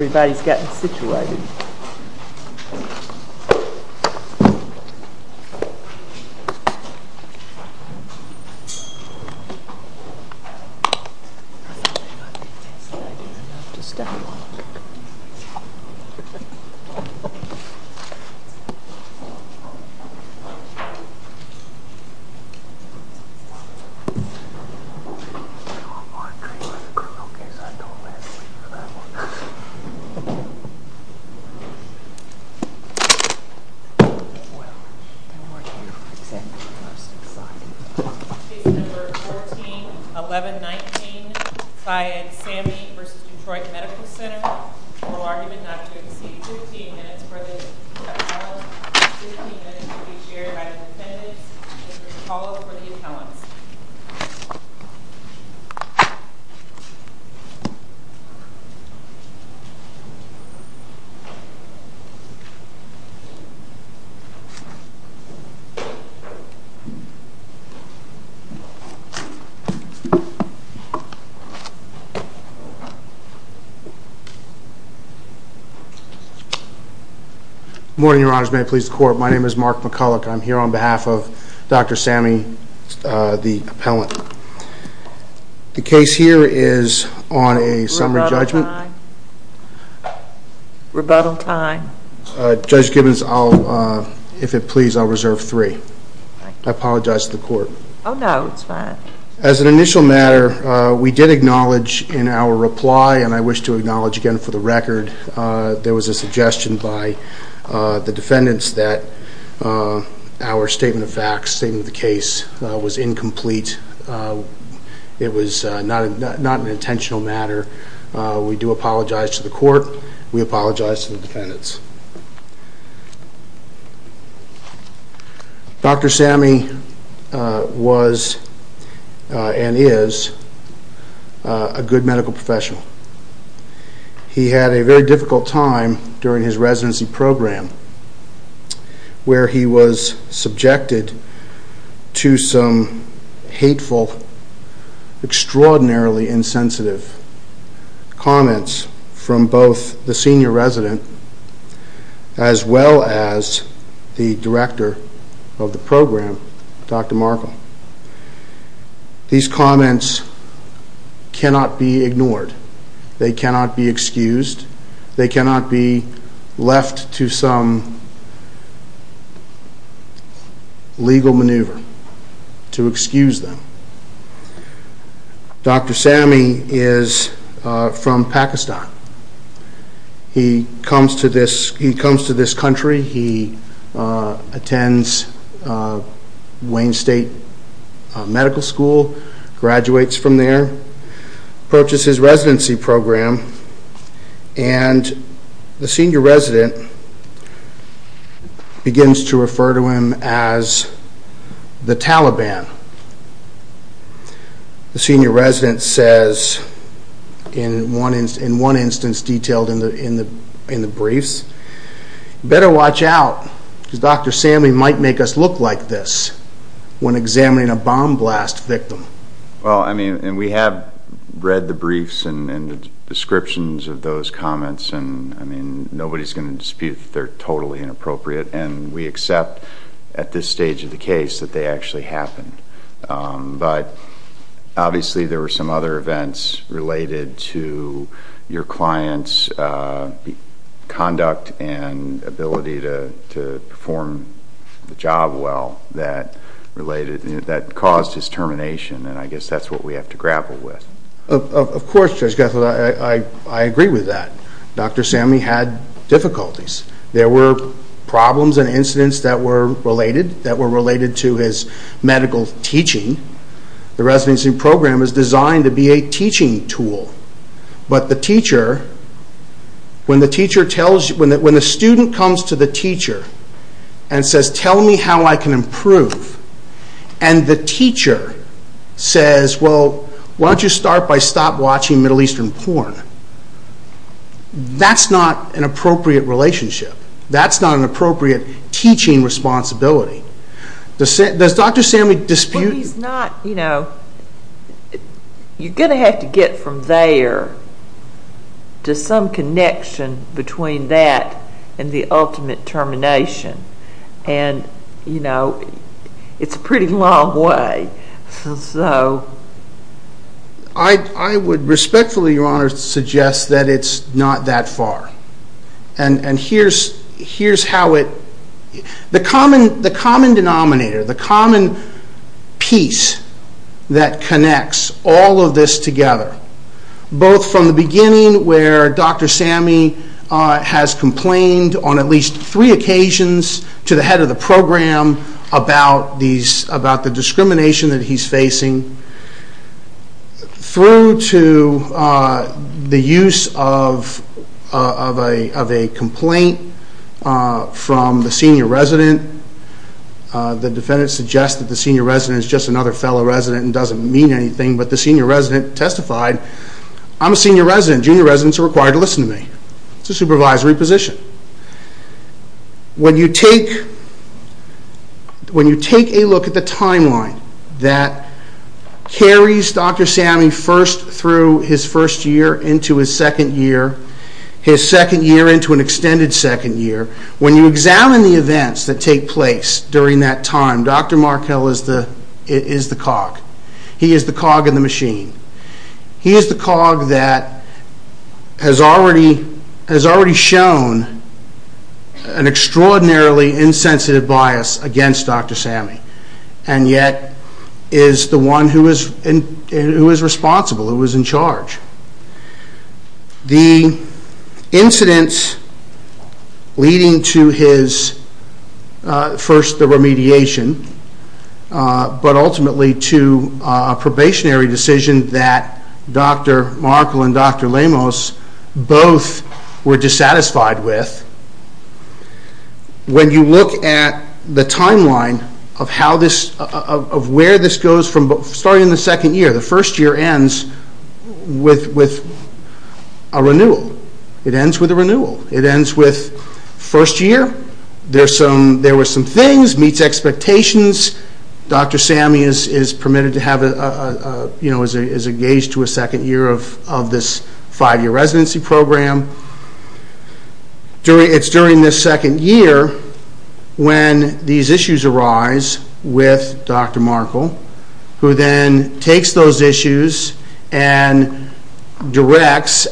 Everybody's getting situated. Case number 141119, Syed Sami v. Detroit Medical Center, oral argument not to exceed 15 minutes for the defendant. 15 minutes will be shared by the defendants, and there's a call for the appellants. Good morning, your honors. May it please the court, my name is Mark McCulloch. I'm here on behalf of Dr. Sami, the appellant. The case here is on a summary judgment. Rebuttal time. Rebuttal time. Judge Gibbons, if it please, I'll reserve three. I apologize to the court. Oh no, it's fine. As an initial matter, we did acknowledge in our reply, and I wish to acknowledge again for the record, there was a suggestion by the defendants that our statement of facts, statement of the case, was incomplete. It was not an intentional matter. We do apologize to the court. We apologize to the defendants. Dr. Sami was and is a good medical professional. He had a very difficult time during his residency program, where he was subjected to some hateful, extraordinarily insensitive comments from both the senior resident, as well as the director of the program, Dr. Markle. These comments cannot be ignored. They cannot be excused. They cannot be left to some legal maneuver to excuse them. Dr. Sami is from Pakistan. He comes to this country, he attends Wayne State Medical School, graduates from there, approaches his residency program, and the senior resident begins to refer to him as the Taliban. The senior resident says, in one instance detailed in the briefs, Better watch out, because Dr. Sami might make us look like this when examining a bomb blast victim. Well, I mean, and we have read the briefs and the descriptions of those comments, and I mean, nobody's going to dispute that they're totally inappropriate, and we accept at this stage of the case that they actually happened. But, obviously, there were some other events related to your client's conduct and ability to perform the job well that caused his termination, and I guess that's what we have to grapple with. Of course, Judge Gethel, I agree with that. Dr. Sami had difficulties. There were problems and incidents that were related to his medical teaching. The residency program is designed to be a teaching tool. But the teacher, when the student comes to the teacher and says, Tell me how I can improve, and the teacher says, Well, why don't you start by stop watching Middle Eastern porn? That's not an appropriate relationship. That's not an appropriate teaching responsibility. Does Dr. Sami dispute? Well, he's not, you know, you're going to have to get from there to some connection between that and the ultimate termination, and, you know, it's a pretty long way. I would respectfully, Your Honor, suggest that it's not that far. And here's how it, the common denominator, the common piece that connects all of this together, both from the beginning where Dr. Sami has complained on at least three occasions to the head of the program about the discrimination that he's facing, through to the use of a complaint from the senior resident. The defendant suggests that the senior resident is just another fellow resident and doesn't mean anything, but the senior resident testified, I'm a senior resident. Junior residents are required to listen to me. It's a supervisory position. When you take a look at the timeline that carries Dr. Sami first through his first year into his second year, his second year into an extended second year, when you examine the events that take place during that time, Dr. Markell is the cog. He is the cog in the machine. He is the cog that has already shown an extraordinarily insensitive bias against Dr. Sami, and yet is the one who is responsible, who is in charge. The incidents leading to his, first the remediation, but ultimately to a probationary decision that Dr. Markell and Dr. Lemos both were dissatisfied with, when you look at the timeline of where this goes from starting in the second year, the first year ends with a renewal. It ends with a renewal. It ends with first year. There were some things, meets expectations. Dr. Sami is permitted to have, is engaged to a second year of this five-year residency program. It's during this second year when these issues arise with Dr. Markell, who then takes those issues and directs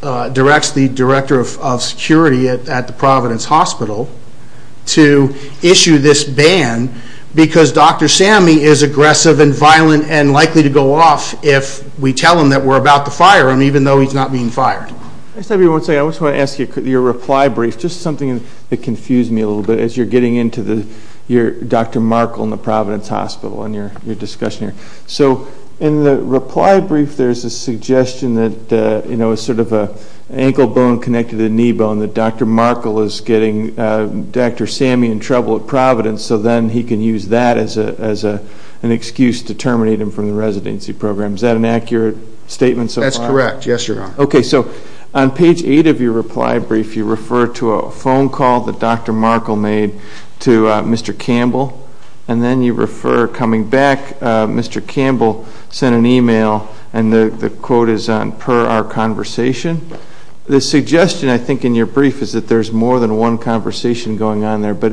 the Director of Security at the Providence Hospital to issue this ban, because Dr. Sami is aggressive and violent and likely to go off if we tell him that we're about to fire him, even though he's not being fired. I just want to ask you, your reply brief, just something that confused me a little bit, as you're getting into Dr. Markell and the Providence Hospital and your discussion here. So in the reply brief, there's a suggestion that it's sort of an ankle bone connected to the knee bone, that Dr. Markell is getting Dr. Sami in trouble at Providence, so then he can use that as an excuse to terminate him from the residency program. Is that an accurate statement? That's correct, yes, Your Honor. Okay, so on page 8 of your reply brief, you refer to a phone call that Dr. Markell made to Mr. Campbell, and then you refer coming back, Mr. Campbell sent an e-mail, and the quote is on per our conversation. The suggestion, I think, in your brief is that there's more than one conversation going on there, but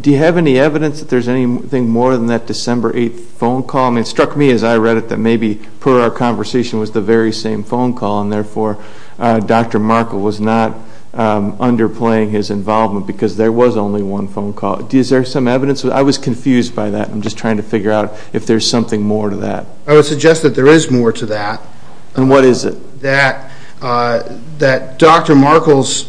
do you have any evidence that there's anything more than that December 8th phone call? I mean, it struck me as I read it that maybe per our conversation was the very same phone call, and therefore Dr. Markell was not underplaying his involvement because there was only one phone call. Is there some evidence? I was confused by that. I'm just trying to figure out if there's something more to that. I would suggest that there is more to that. And what is it? That Dr. Markell's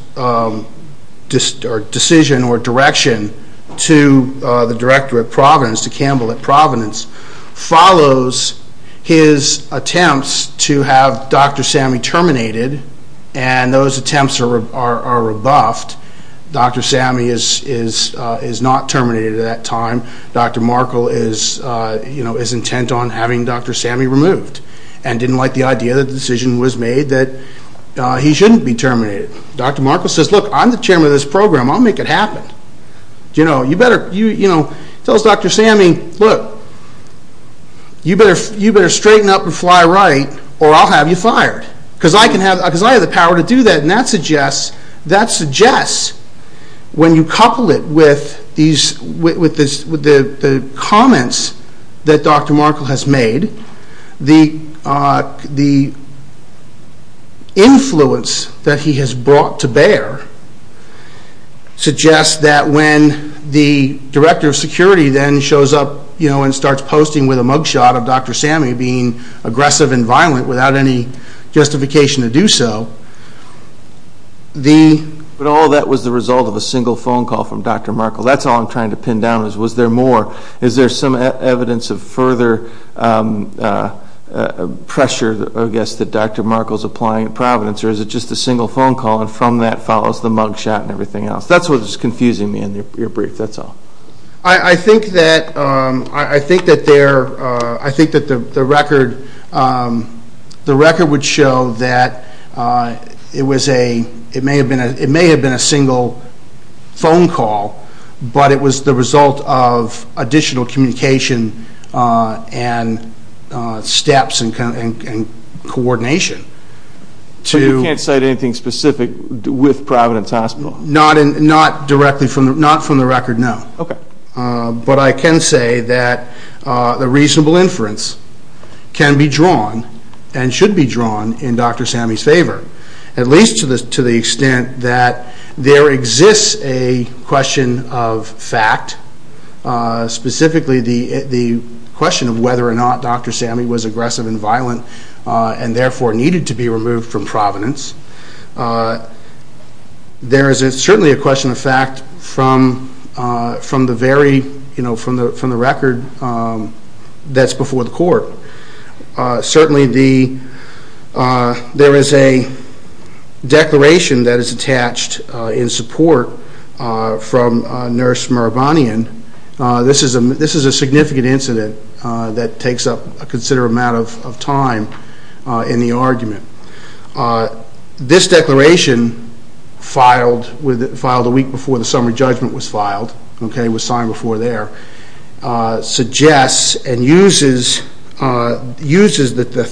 decision or direction to the director at Providence, to Campbell at Providence, follows his attempts to have Dr. Sammey terminated, and those attempts are rebuffed. Dr. Sammey is not terminated at that time. Dr. Markell is intent on having Dr. Sammey removed and didn't like the idea that the decision was made that he shouldn't be terminated. Dr. Markell says, look, I'm the chairman of this program. I'll make it happen. You know, tell Dr. Sammey, look, you better straighten up and fly right or I'll have you fired because I have the power to do that, and that suggests when you couple it with the comments that Dr. Markell has made, the influence that he has brought to bear suggests that when the director of security then shows up and starts posting with a mugshot of Dr. Sammey being aggressive and violent without any justification to do so, the... But all that was the result of a single phone call from Dr. Markell. That's all I'm trying to pin down is was there more. Is there some evidence of further pressure, I guess, that Dr. Markell is applying at Providence, or is it just a single phone call and from that follows the mugshot and everything else? That's what was confusing me in your brief. That's all. I think that the record would show that it may have been a single phone call, but it was the result of additional communication and steps and coordination. So you can't cite anything specific with Providence Hospital? Not directly from the record, no. But I can say that a reasonable inference can be drawn and should be drawn in Dr. Sammey's favor, at least to the extent that there exists a question of fact, specifically the question of whether or not Dr. Sammey was aggressive and violent and therefore needed to be removed from Providence. There is certainly a question of fact from the record that's before the court. Certainly there is a declaration that is attached in support from Nurse Murabanian. This is a significant incident that takes up a considerable amount of time in the argument. This declaration, filed a week before the summary judgment was filed, was signed before there, suggests and uses the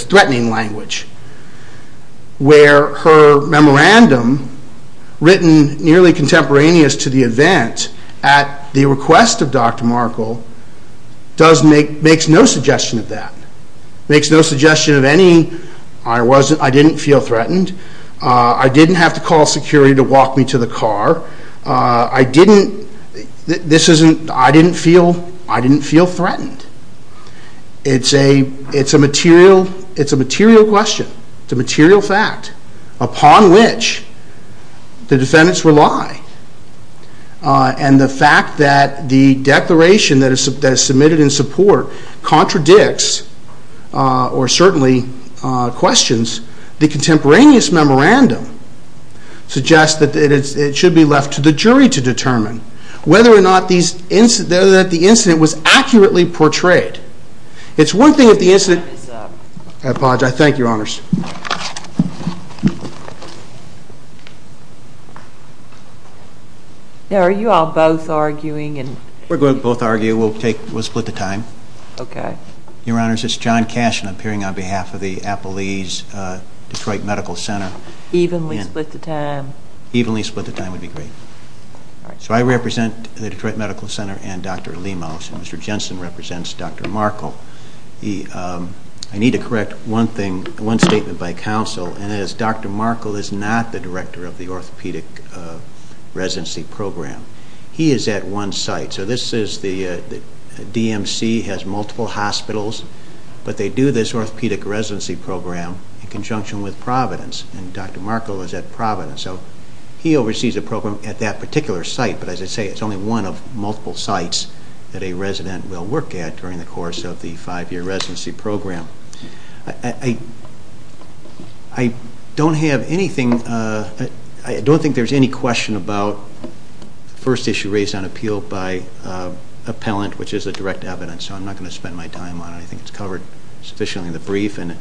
threatening language, where her memorandum, written nearly contemporaneous to the event, at the request of Dr. Markle, makes no suggestion of that. It makes no suggestion of any, I didn't feel threatened, I didn't have to call security to walk me to the car, I didn't feel threatened. It's a material question, it's a material fact, upon which the defendants rely. And the fact that the declaration that is submitted in support contradicts, or certainly questions, the contemporaneous memorandum, suggests that it should be left to the jury to determine whether or not the incident was accurately portrayed. It's one thing if the incident... I apologize. Thank you, Your Honors. Now, are you all both arguing? We're going to both argue. We'll split the time. Okay. Your Honors, it's John Cashin appearing on behalf of the Appalese Detroit Medical Center. Evenly split the time. Evenly split the time would be great. So I represent the Detroit Medical Center and Dr. Lemos, and Mr. Jensen represents Dr. Markle. I need to correct one statement by counsel, and that is Dr. Markle is not the director of the orthopedic residency program. He is at one site. So this is the DMC, has multiple hospitals, but they do this orthopedic residency program in conjunction with Providence, and Dr. Markle is at Providence. So he oversees the program at that particular site, but as I say, it's only one of multiple sites that a resident will work at during the course of the five-year residency program. I don't think there's any question about the first issue raised on appeal by appellant, which is the direct evidence, so I'm not going to spend my time on it. I think it's covered sufficiently in the brief, and it's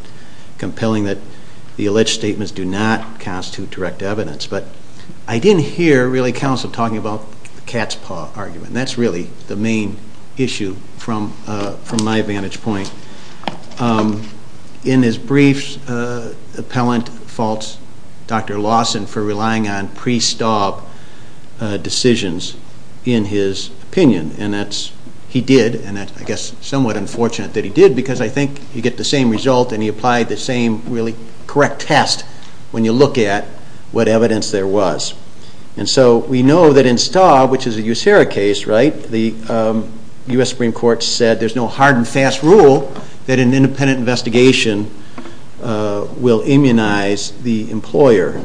compelling that the alleged statements do not constitute direct evidence. But I didn't hear, really, counsel talking about the cat's paw argument. That's really the main issue from my vantage point. In his brief, appellant faults Dr. Lawson for relying on pre-staub decisions in his opinion, and he did, and that's, I guess, somewhat unfortunate that he did, because I think you get the same result, and he applied the same really correct test when you look at what evidence there was. And so we know that in Staub, which is a USERA case, right, the U.S. Supreme Court said there's no hard and fast rule that an independent investigation will immunize the employer.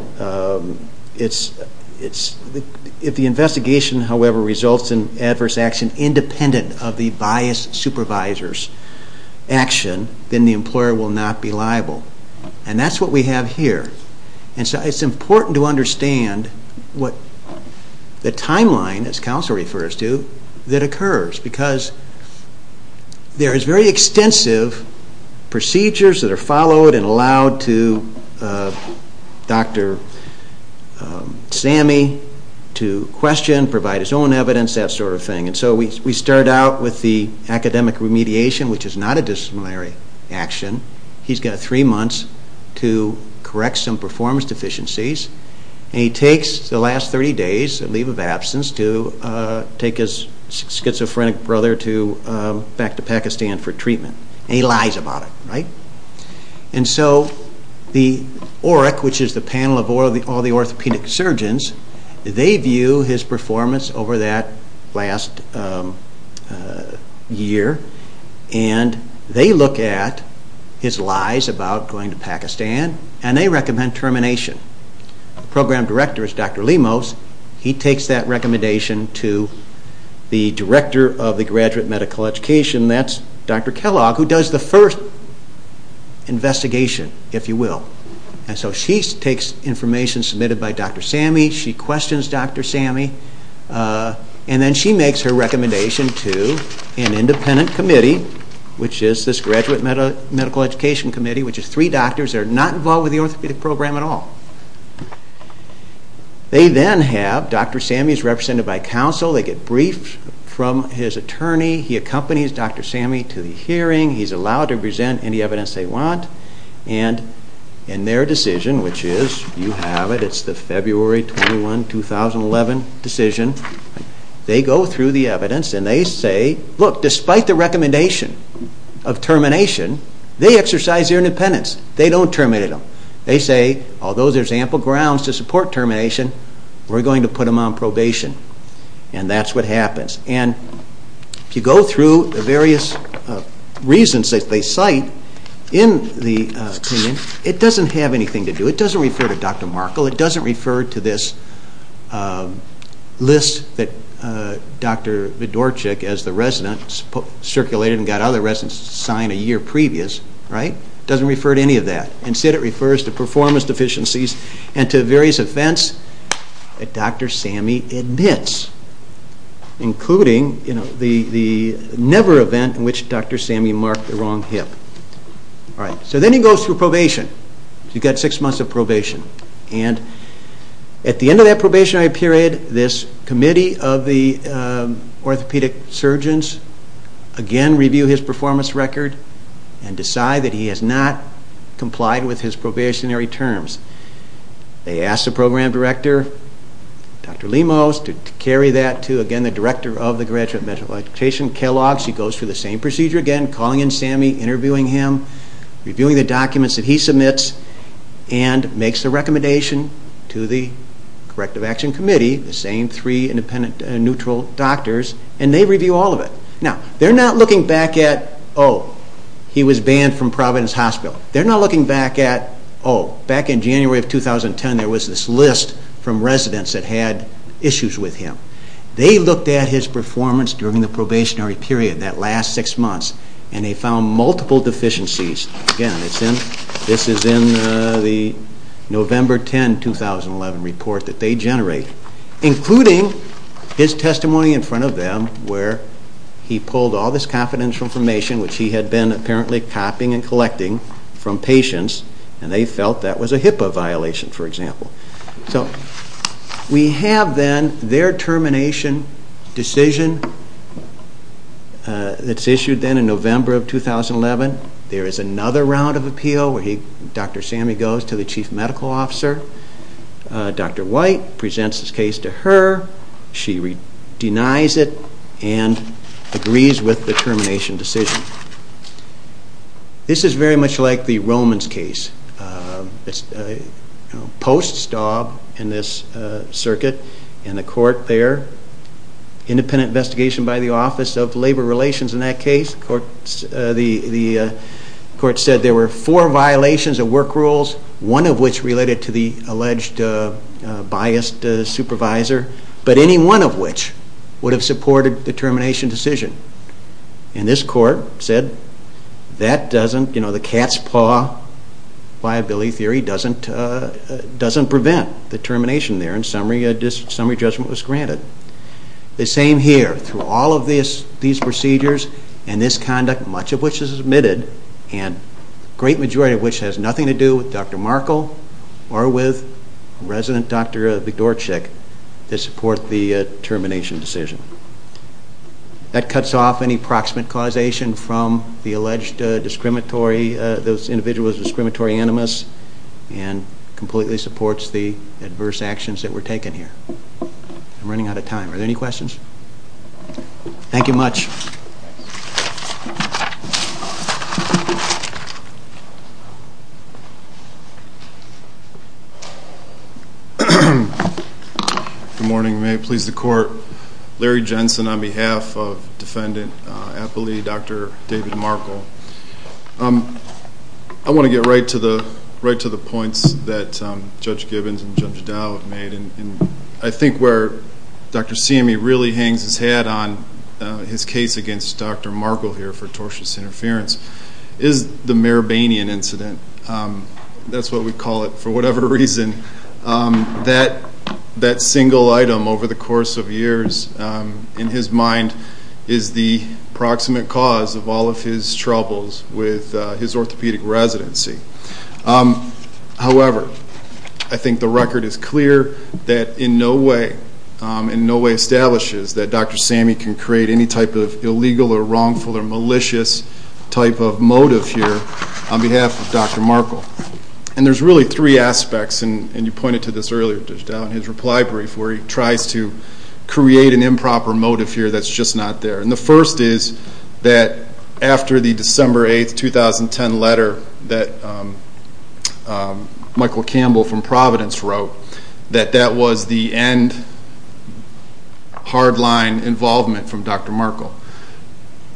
If the investigation, however, results in adverse action independent of the biased supervisor's action, then the employer will not be liable. And that's what we have here. And so it's important to understand what the timeline, as counsel refers to, that occurs, because there is very extensive procedures that are followed and allowed to Dr. Sammy to question, provide his own evidence, that sort of thing. And so we start out with the academic remediation, which is not a disciplinary action. He's got three months to correct some performance deficiencies, and he takes the last 30 days, a leave of absence, to take his schizophrenic brother back to Pakistan for treatment. And he lies about it, right? And so the OERC, which is the panel of all the orthopedic surgeons, they view his performance over that last year, and they look at his lies about going to Pakistan, and they recommend termination. The program director is Dr. Lemos. He takes that recommendation to the director of the graduate medical education, that's Dr. Kellogg, who does the first investigation, if you will. And so she takes information submitted by Dr. Sammy, she questions Dr. Sammy, and then she makes her recommendation to an independent committee, which is this graduate medical education committee, which is three doctors that are not involved with the orthopedic program at all. They then have Dr. Sammy is represented by counsel, they get briefed from his attorney, he accompanies Dr. Sammy to the hearing, he's allowed to present any evidence they want, and in their decision, which is, you have it, it's the February 21, 2011 decision, they go through the evidence and they say, look, despite the recommendation of termination, they exercise their independence. They don't terminate him. They say, although there's ample grounds to support termination, we're going to put him on probation. And that's what happens. And if you go through the various reasons that they cite in the opinion, it doesn't have anything to do, it doesn't refer to Dr. Markle, it doesn't refer to this list that Dr. Widorczyk, as the resident, circulated and got other residents to sign a year previous, right? It doesn't refer to any of that. Instead it refers to performance deficiencies and to various events that Dr. Sammy admits, including the never event in which Dr. Sammy marked the wrong hip. So then he goes through probation. He's got six months of probation. And at the end of that probationary period, this committee of the orthopedic surgeons again review his performance record and decide that he has not complied with his probationary terms. They ask the program director, Dr. Lemos, to carry that to, again, the director of the graduate medical education, Kellogg's. He goes through the same procedure again, calling in Sammy, interviewing him, reviewing the documents that he submits, and makes a recommendation to the corrective action committee, the same three independent and neutral doctors, and they review all of it. Now, they're not looking back at, oh, he was banned from Providence Hospital. They're not looking back at, oh, back in January of 2010, there was this list from residents that had issues with him. They looked at his performance during the probationary period, that last six months, and they found multiple deficiencies. Again, this is in the November 10, 2011 report that they generate, including his testimony in front of them where he pulled all this confidential information, which he had been apparently copying and collecting from patients, and they felt that was a HIPAA violation, for example. So we have then their termination decision that's issued then in November of 2011. There is another round of appeal where Dr. Sammy goes to the chief medical officer. Dr. White presents his case to her. She denies it and agrees with the termination decision. This is very much like the Romans case. It's post-Staub in this circuit, and the court there, independent investigation by the Office of Labor Relations in that case. The court said there were four violations of work rules, one of which related to the alleged biased supervisor, but any one of which would have supported the termination decision. This court said the cat's paw viability theory doesn't prevent the termination there, and summary judgment was granted. The same here. Through all of these procedures and this conduct, much of which is admitted, and a great majority of which has nothing to do with Dr. Markle or with resident Dr. Bedorczyk that support the termination decision. That cuts off any proximate causation from the alleged discriminatory, those individuals as discriminatory animus and completely supports the adverse actions that were taken here. I'm running out of time. Are there any questions? Thank you much. Thank you. Good morning. May it please the Court. Larry Jensen on behalf of Defendant Appley, Dr. David Markle. I want to get right to the points that Judge Gibbons and Judge Dowd made, and I think where Dr. Siemey really hangs his head on his case against Dr. Markle here for tortious interference is the Merebanian incident. That's what we call it for whatever reason. That single item over the course of years, in his mind, is the proximate cause of all of his troubles with his orthopedic residency. However, I think the record is clear that in no way establishes that Dr. Siemey can create any type of illegal or wrongful or malicious type of motive here on behalf of Dr. Markle. And there's really three aspects, and you pointed to this earlier, Judge Dowd, in his reply brief, where he tries to create an improper motive here that's just not there. And the first is that after the December 8, 2010 letter that Michael Campbell from Providence wrote, that that was the end hardline involvement from Dr. Markle.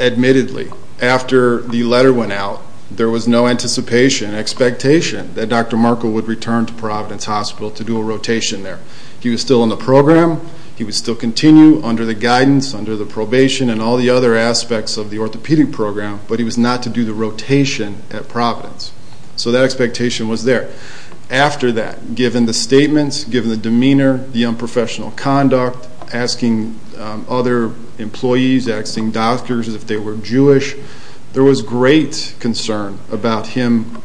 Admittedly, after the letter went out, there was no anticipation, expectation, that Dr. Markle would return to Providence Hospital to do a rotation there. He was still in the program. He would still continue under the guidance, under the probation, and all the other aspects of the orthopedic program, but he was not to do the rotation at Providence. So that expectation was there. After that, given the statements, given the demeanor, the unprofessional conduct, asking other employees, asking doctors if they were Jewish, there was great concern about him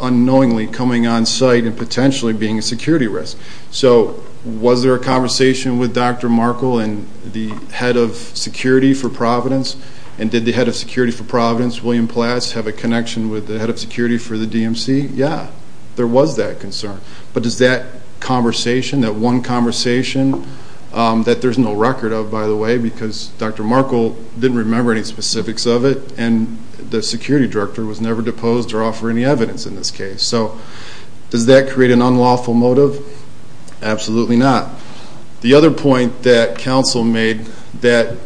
unknowingly coming on site and potentially being a security risk. So was there a conversation with Dr. Markle and the head of security for Providence? And did the head of security for Providence, William Plass, have a connection with the head of security for the DMC? Yeah. There was that concern. But does that conversation, that one conversation, that there's no record of, by the way, because Dr. Markle didn't remember any specifics of it and the security director was never deposed or offer any evidence in this case. So does that create an unlawful motive? Absolutely not. The other point that counsel made that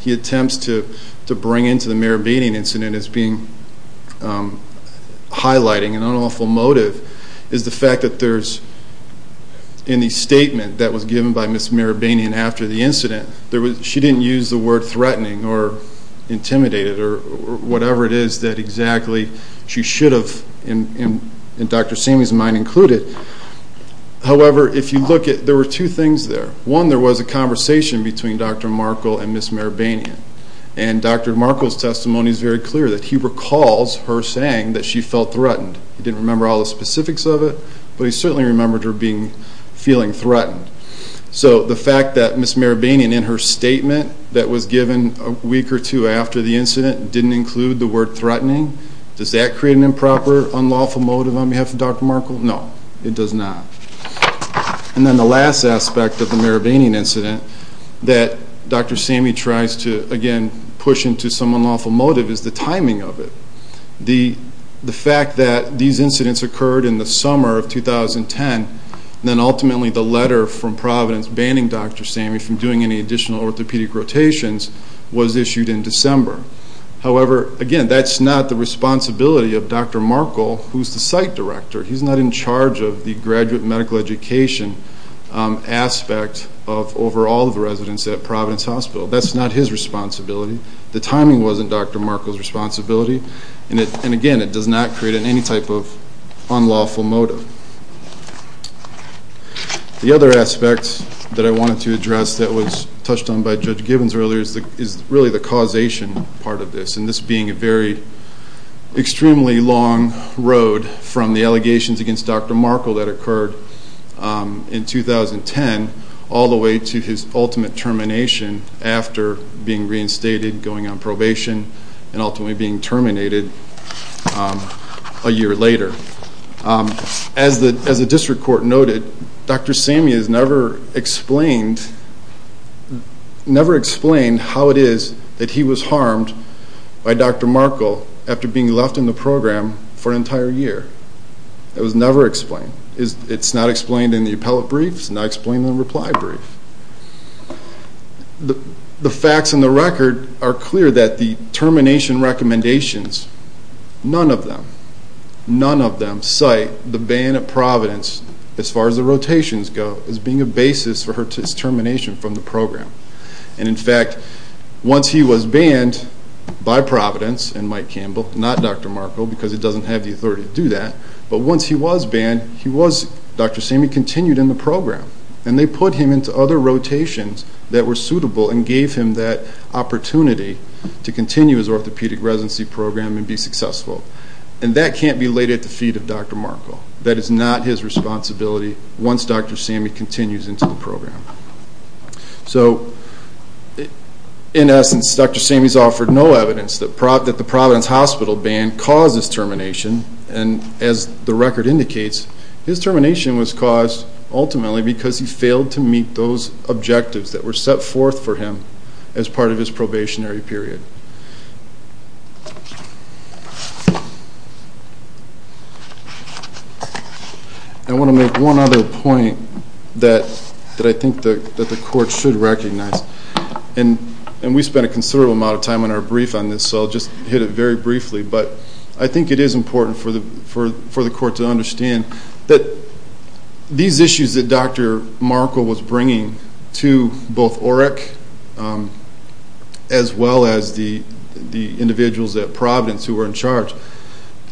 he attempts to bring into the Meribanean incident as being highlighting an unlawful motive is the fact that there's in the statement that was given by Ms. Meribanean after the incident, she didn't use the word threatening or intimidated or whatever it is that exactly she should have, in Dr. Seamy's mind, included. However, if you look at it, there were two things there. One, there was a conversation between Dr. Markle and Ms. Meribanean. And Dr. Markle's testimony is very clear that he recalls her saying that she felt threatened. He didn't remember all the specifics of it, but he certainly remembered her feeling threatened. So the fact that Ms. Meribanean, in her statement that was given a week or two after the incident, didn't include the word threatening, does that create an improper, unlawful motive on behalf of Dr. Markle? No, it does not. And then the last aspect of the Meribanean incident that Dr. Seamy tries to, again, push into some unlawful motive is the timing of it. The fact that these incidents occurred in the summer of 2010, then ultimately the letter from Providence banning Dr. Seamy from doing any additional orthopedic rotations was issued in December. However, again, that's not the responsibility of Dr. Markle, who's the site director. He's not in charge of the graduate medical education aspect of overall the residents at Providence Hospital. That's not his responsibility. The timing wasn't Dr. Markle's responsibility. And again, it does not create any type of unlawful motive. The other aspect that I wanted to address that was touched on by Judge Gibbons earlier is really the causation part of this, and this being a very extremely long road from the allegations against Dr. Markle that occurred in 2010 all the way to his ultimate termination after being reinstated, going on probation, and ultimately being terminated a year later. As the district court noted, Dr. Seamy has never explained how it is that he was harmed by Dr. Markle after being left in the program for an entire year. It was never explained. It's not explained in the appellate brief. It's not explained in the reply brief. The facts in the record are clear that the termination recommendations, none of them cite the ban at Providence as far as the rotations go as being a basis for his termination from the program. And in fact, once he was banned by Providence, and Mike Campbell, not Dr. Markle, because he doesn't have the authority to do that, but once he was banned, Dr. Seamy continued in the program. And they put him into other rotations that were suitable and gave him that opportunity to continue his orthopedic residency program and be successful. And that can't be laid at the feet of Dr. Markle. That is not his responsibility once Dr. Seamy continues into the program. So, in essence, Dr. Seamy's offered no evidence that the Providence Hospital ban caused his termination, and as the record indicates, his termination was caused ultimately because he failed to meet those objectives that were set forth for him as part of his probationary period. I want to make one other point that I think that the court should recognize, and we spent a considerable amount of time on our brief on this, so I'll just hit it very briefly, but I think it is important for the court to understand that these issues that Dr. Markle was bringing to both OREC as well as the individuals at Providence who were in charge,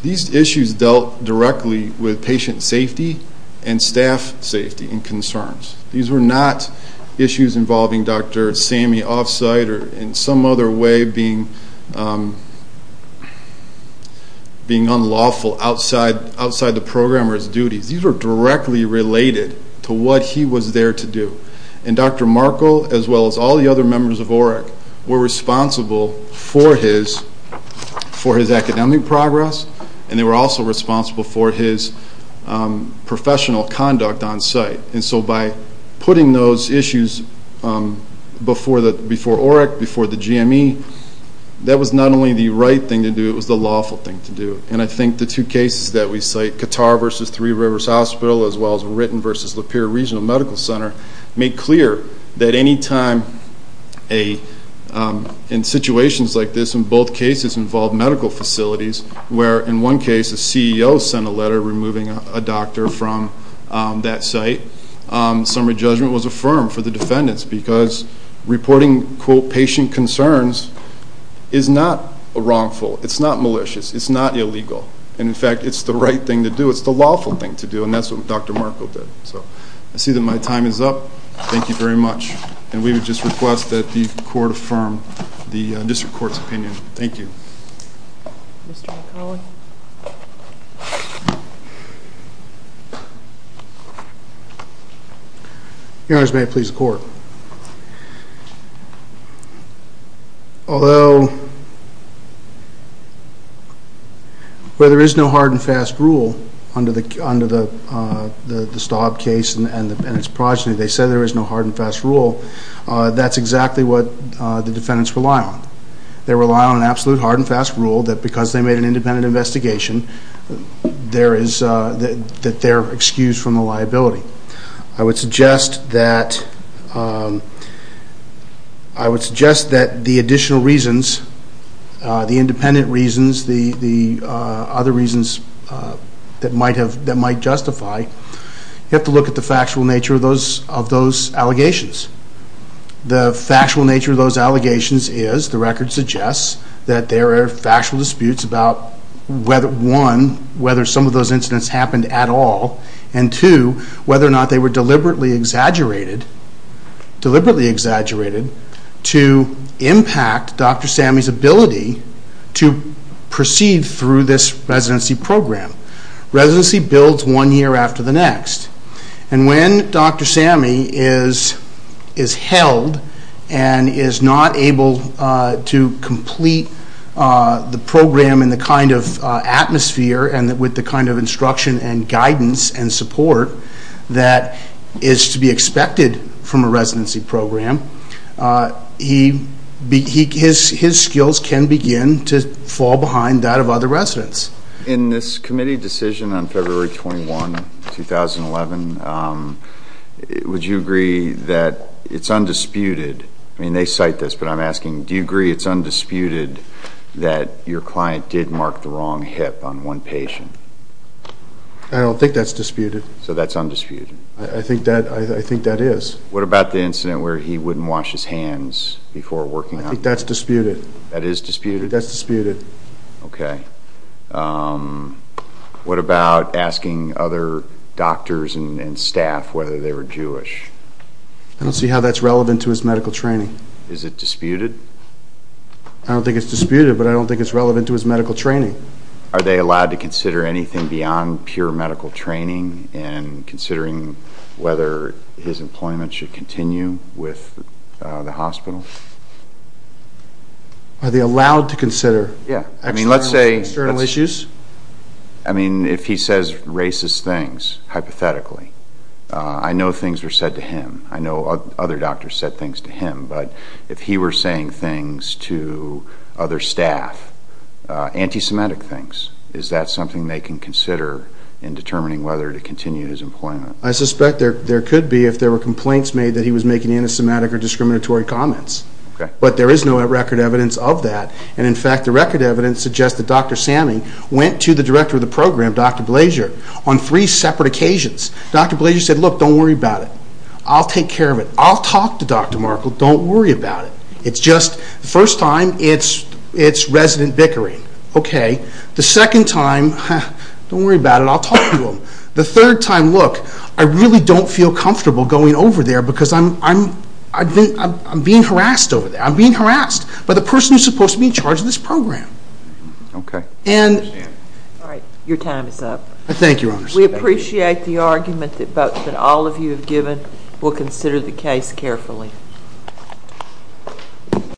these issues dealt directly with patient safety and staff safety and concerns. These were not issues involving Dr. Seamy off-site or in some other way being unlawful outside the programmer's duties. These were directly related to what he was there to do. And Dr. Markle, as well as all the other members of OREC, were responsible for his academic progress, and they were also responsible for his professional conduct on-site. And so by putting those issues before OREC, before the GME, that was not only the right thing to do, it was the lawful thing to do. And I think the two cases that we cite, Qatar v. Three Rivers Hospital as well as Ritten v. Lapeer Regional Medical Center, make clear that any time in situations like this, in both cases involved medical facilities, where in one case a CEO sent a letter removing a doctor from that site, summary judgment was affirmed for the defendants because reporting, quote, patient concerns is not wrongful, it's not malicious, it's not illegal. And, in fact, it's the right thing to do, it's the lawful thing to do, and that's what Dr. Markle did. I see that my time is up. Thank you very much. And we would just request that the Court affirm the District Court's opinion. Thank you. Mr. McClellan. Your Honors, may I please the Court? Although where there is no hard and fast rule under the Staub case and its progeny, they say there is no hard and fast rule, that's exactly what the defendants rely on. They rely on an absolute hard and fast rule that because they made an independent investigation, that they're excused from the liability. I would suggest that the additional reasons, the independent reasons, the other reasons that might justify, you have to look at the factual nature of those allegations. The factual nature of those allegations is, the record suggests, that there are factual disputes about, one, whether some of those incidents happened at all, and two, whether or not they were deliberately exaggerated to impact Dr. Sammey's ability to proceed through this residency program. Residency builds one year after the next, and when Dr. Sammey is held and is not able to complete the program in the kind of atmosphere and with the kind of instruction and guidance and support that is to be expected from a residency program, his skills can begin to fall behind that of other residents. In this committee decision on February 21, 2011, would you agree that it's undisputed, I mean, they cite this, but I'm asking, do you agree it's undisputed that your client did mark the wrong hip on one patient? I don't think that's disputed. So that's undisputed? I think that is. What about the incident where he wouldn't wash his hands before working out? I think that's disputed. That is disputed? That's disputed. Okay. What about asking other doctors and staff whether they were Jewish? I don't see how that's relevant to his medical training. Is it disputed? I don't think it's disputed, but I don't think it's relevant to his medical training. Are they allowed to consider anything beyond pure medical training in considering whether his employment should continue with the hospital? Are they allowed to consider external issues? I mean, if he says racist things, hypothetically, I know things were said to him. I know other doctors said things to him, but if he were saying things to other staff, anti-Semitic things, is that something they can consider in determining whether to continue his employment? I suspect there could be if there were complaints made that he was making anti-Semitic or discriminatory comments, but there is no record evidence of that. And, in fact, the record evidence suggests that Dr. Samming went to the director of the program, Dr. Blasier, on three separate occasions. Dr. Blasier said, look, don't worry about it. I'll take care of it. I'll talk to Dr. Markle. Don't worry about it. It's just the first time, it's resident bickering. Okay. The second time, don't worry about it. I'll talk to him. The third time, look, I really don't feel comfortable going over there because I'm being harassed over there. I'm being harassed by the person who's supposed to be in charge of this program. Okay. All right. Thank you, Your Honor. We appreciate the argument that all of you have given. We'll consider the case carefully.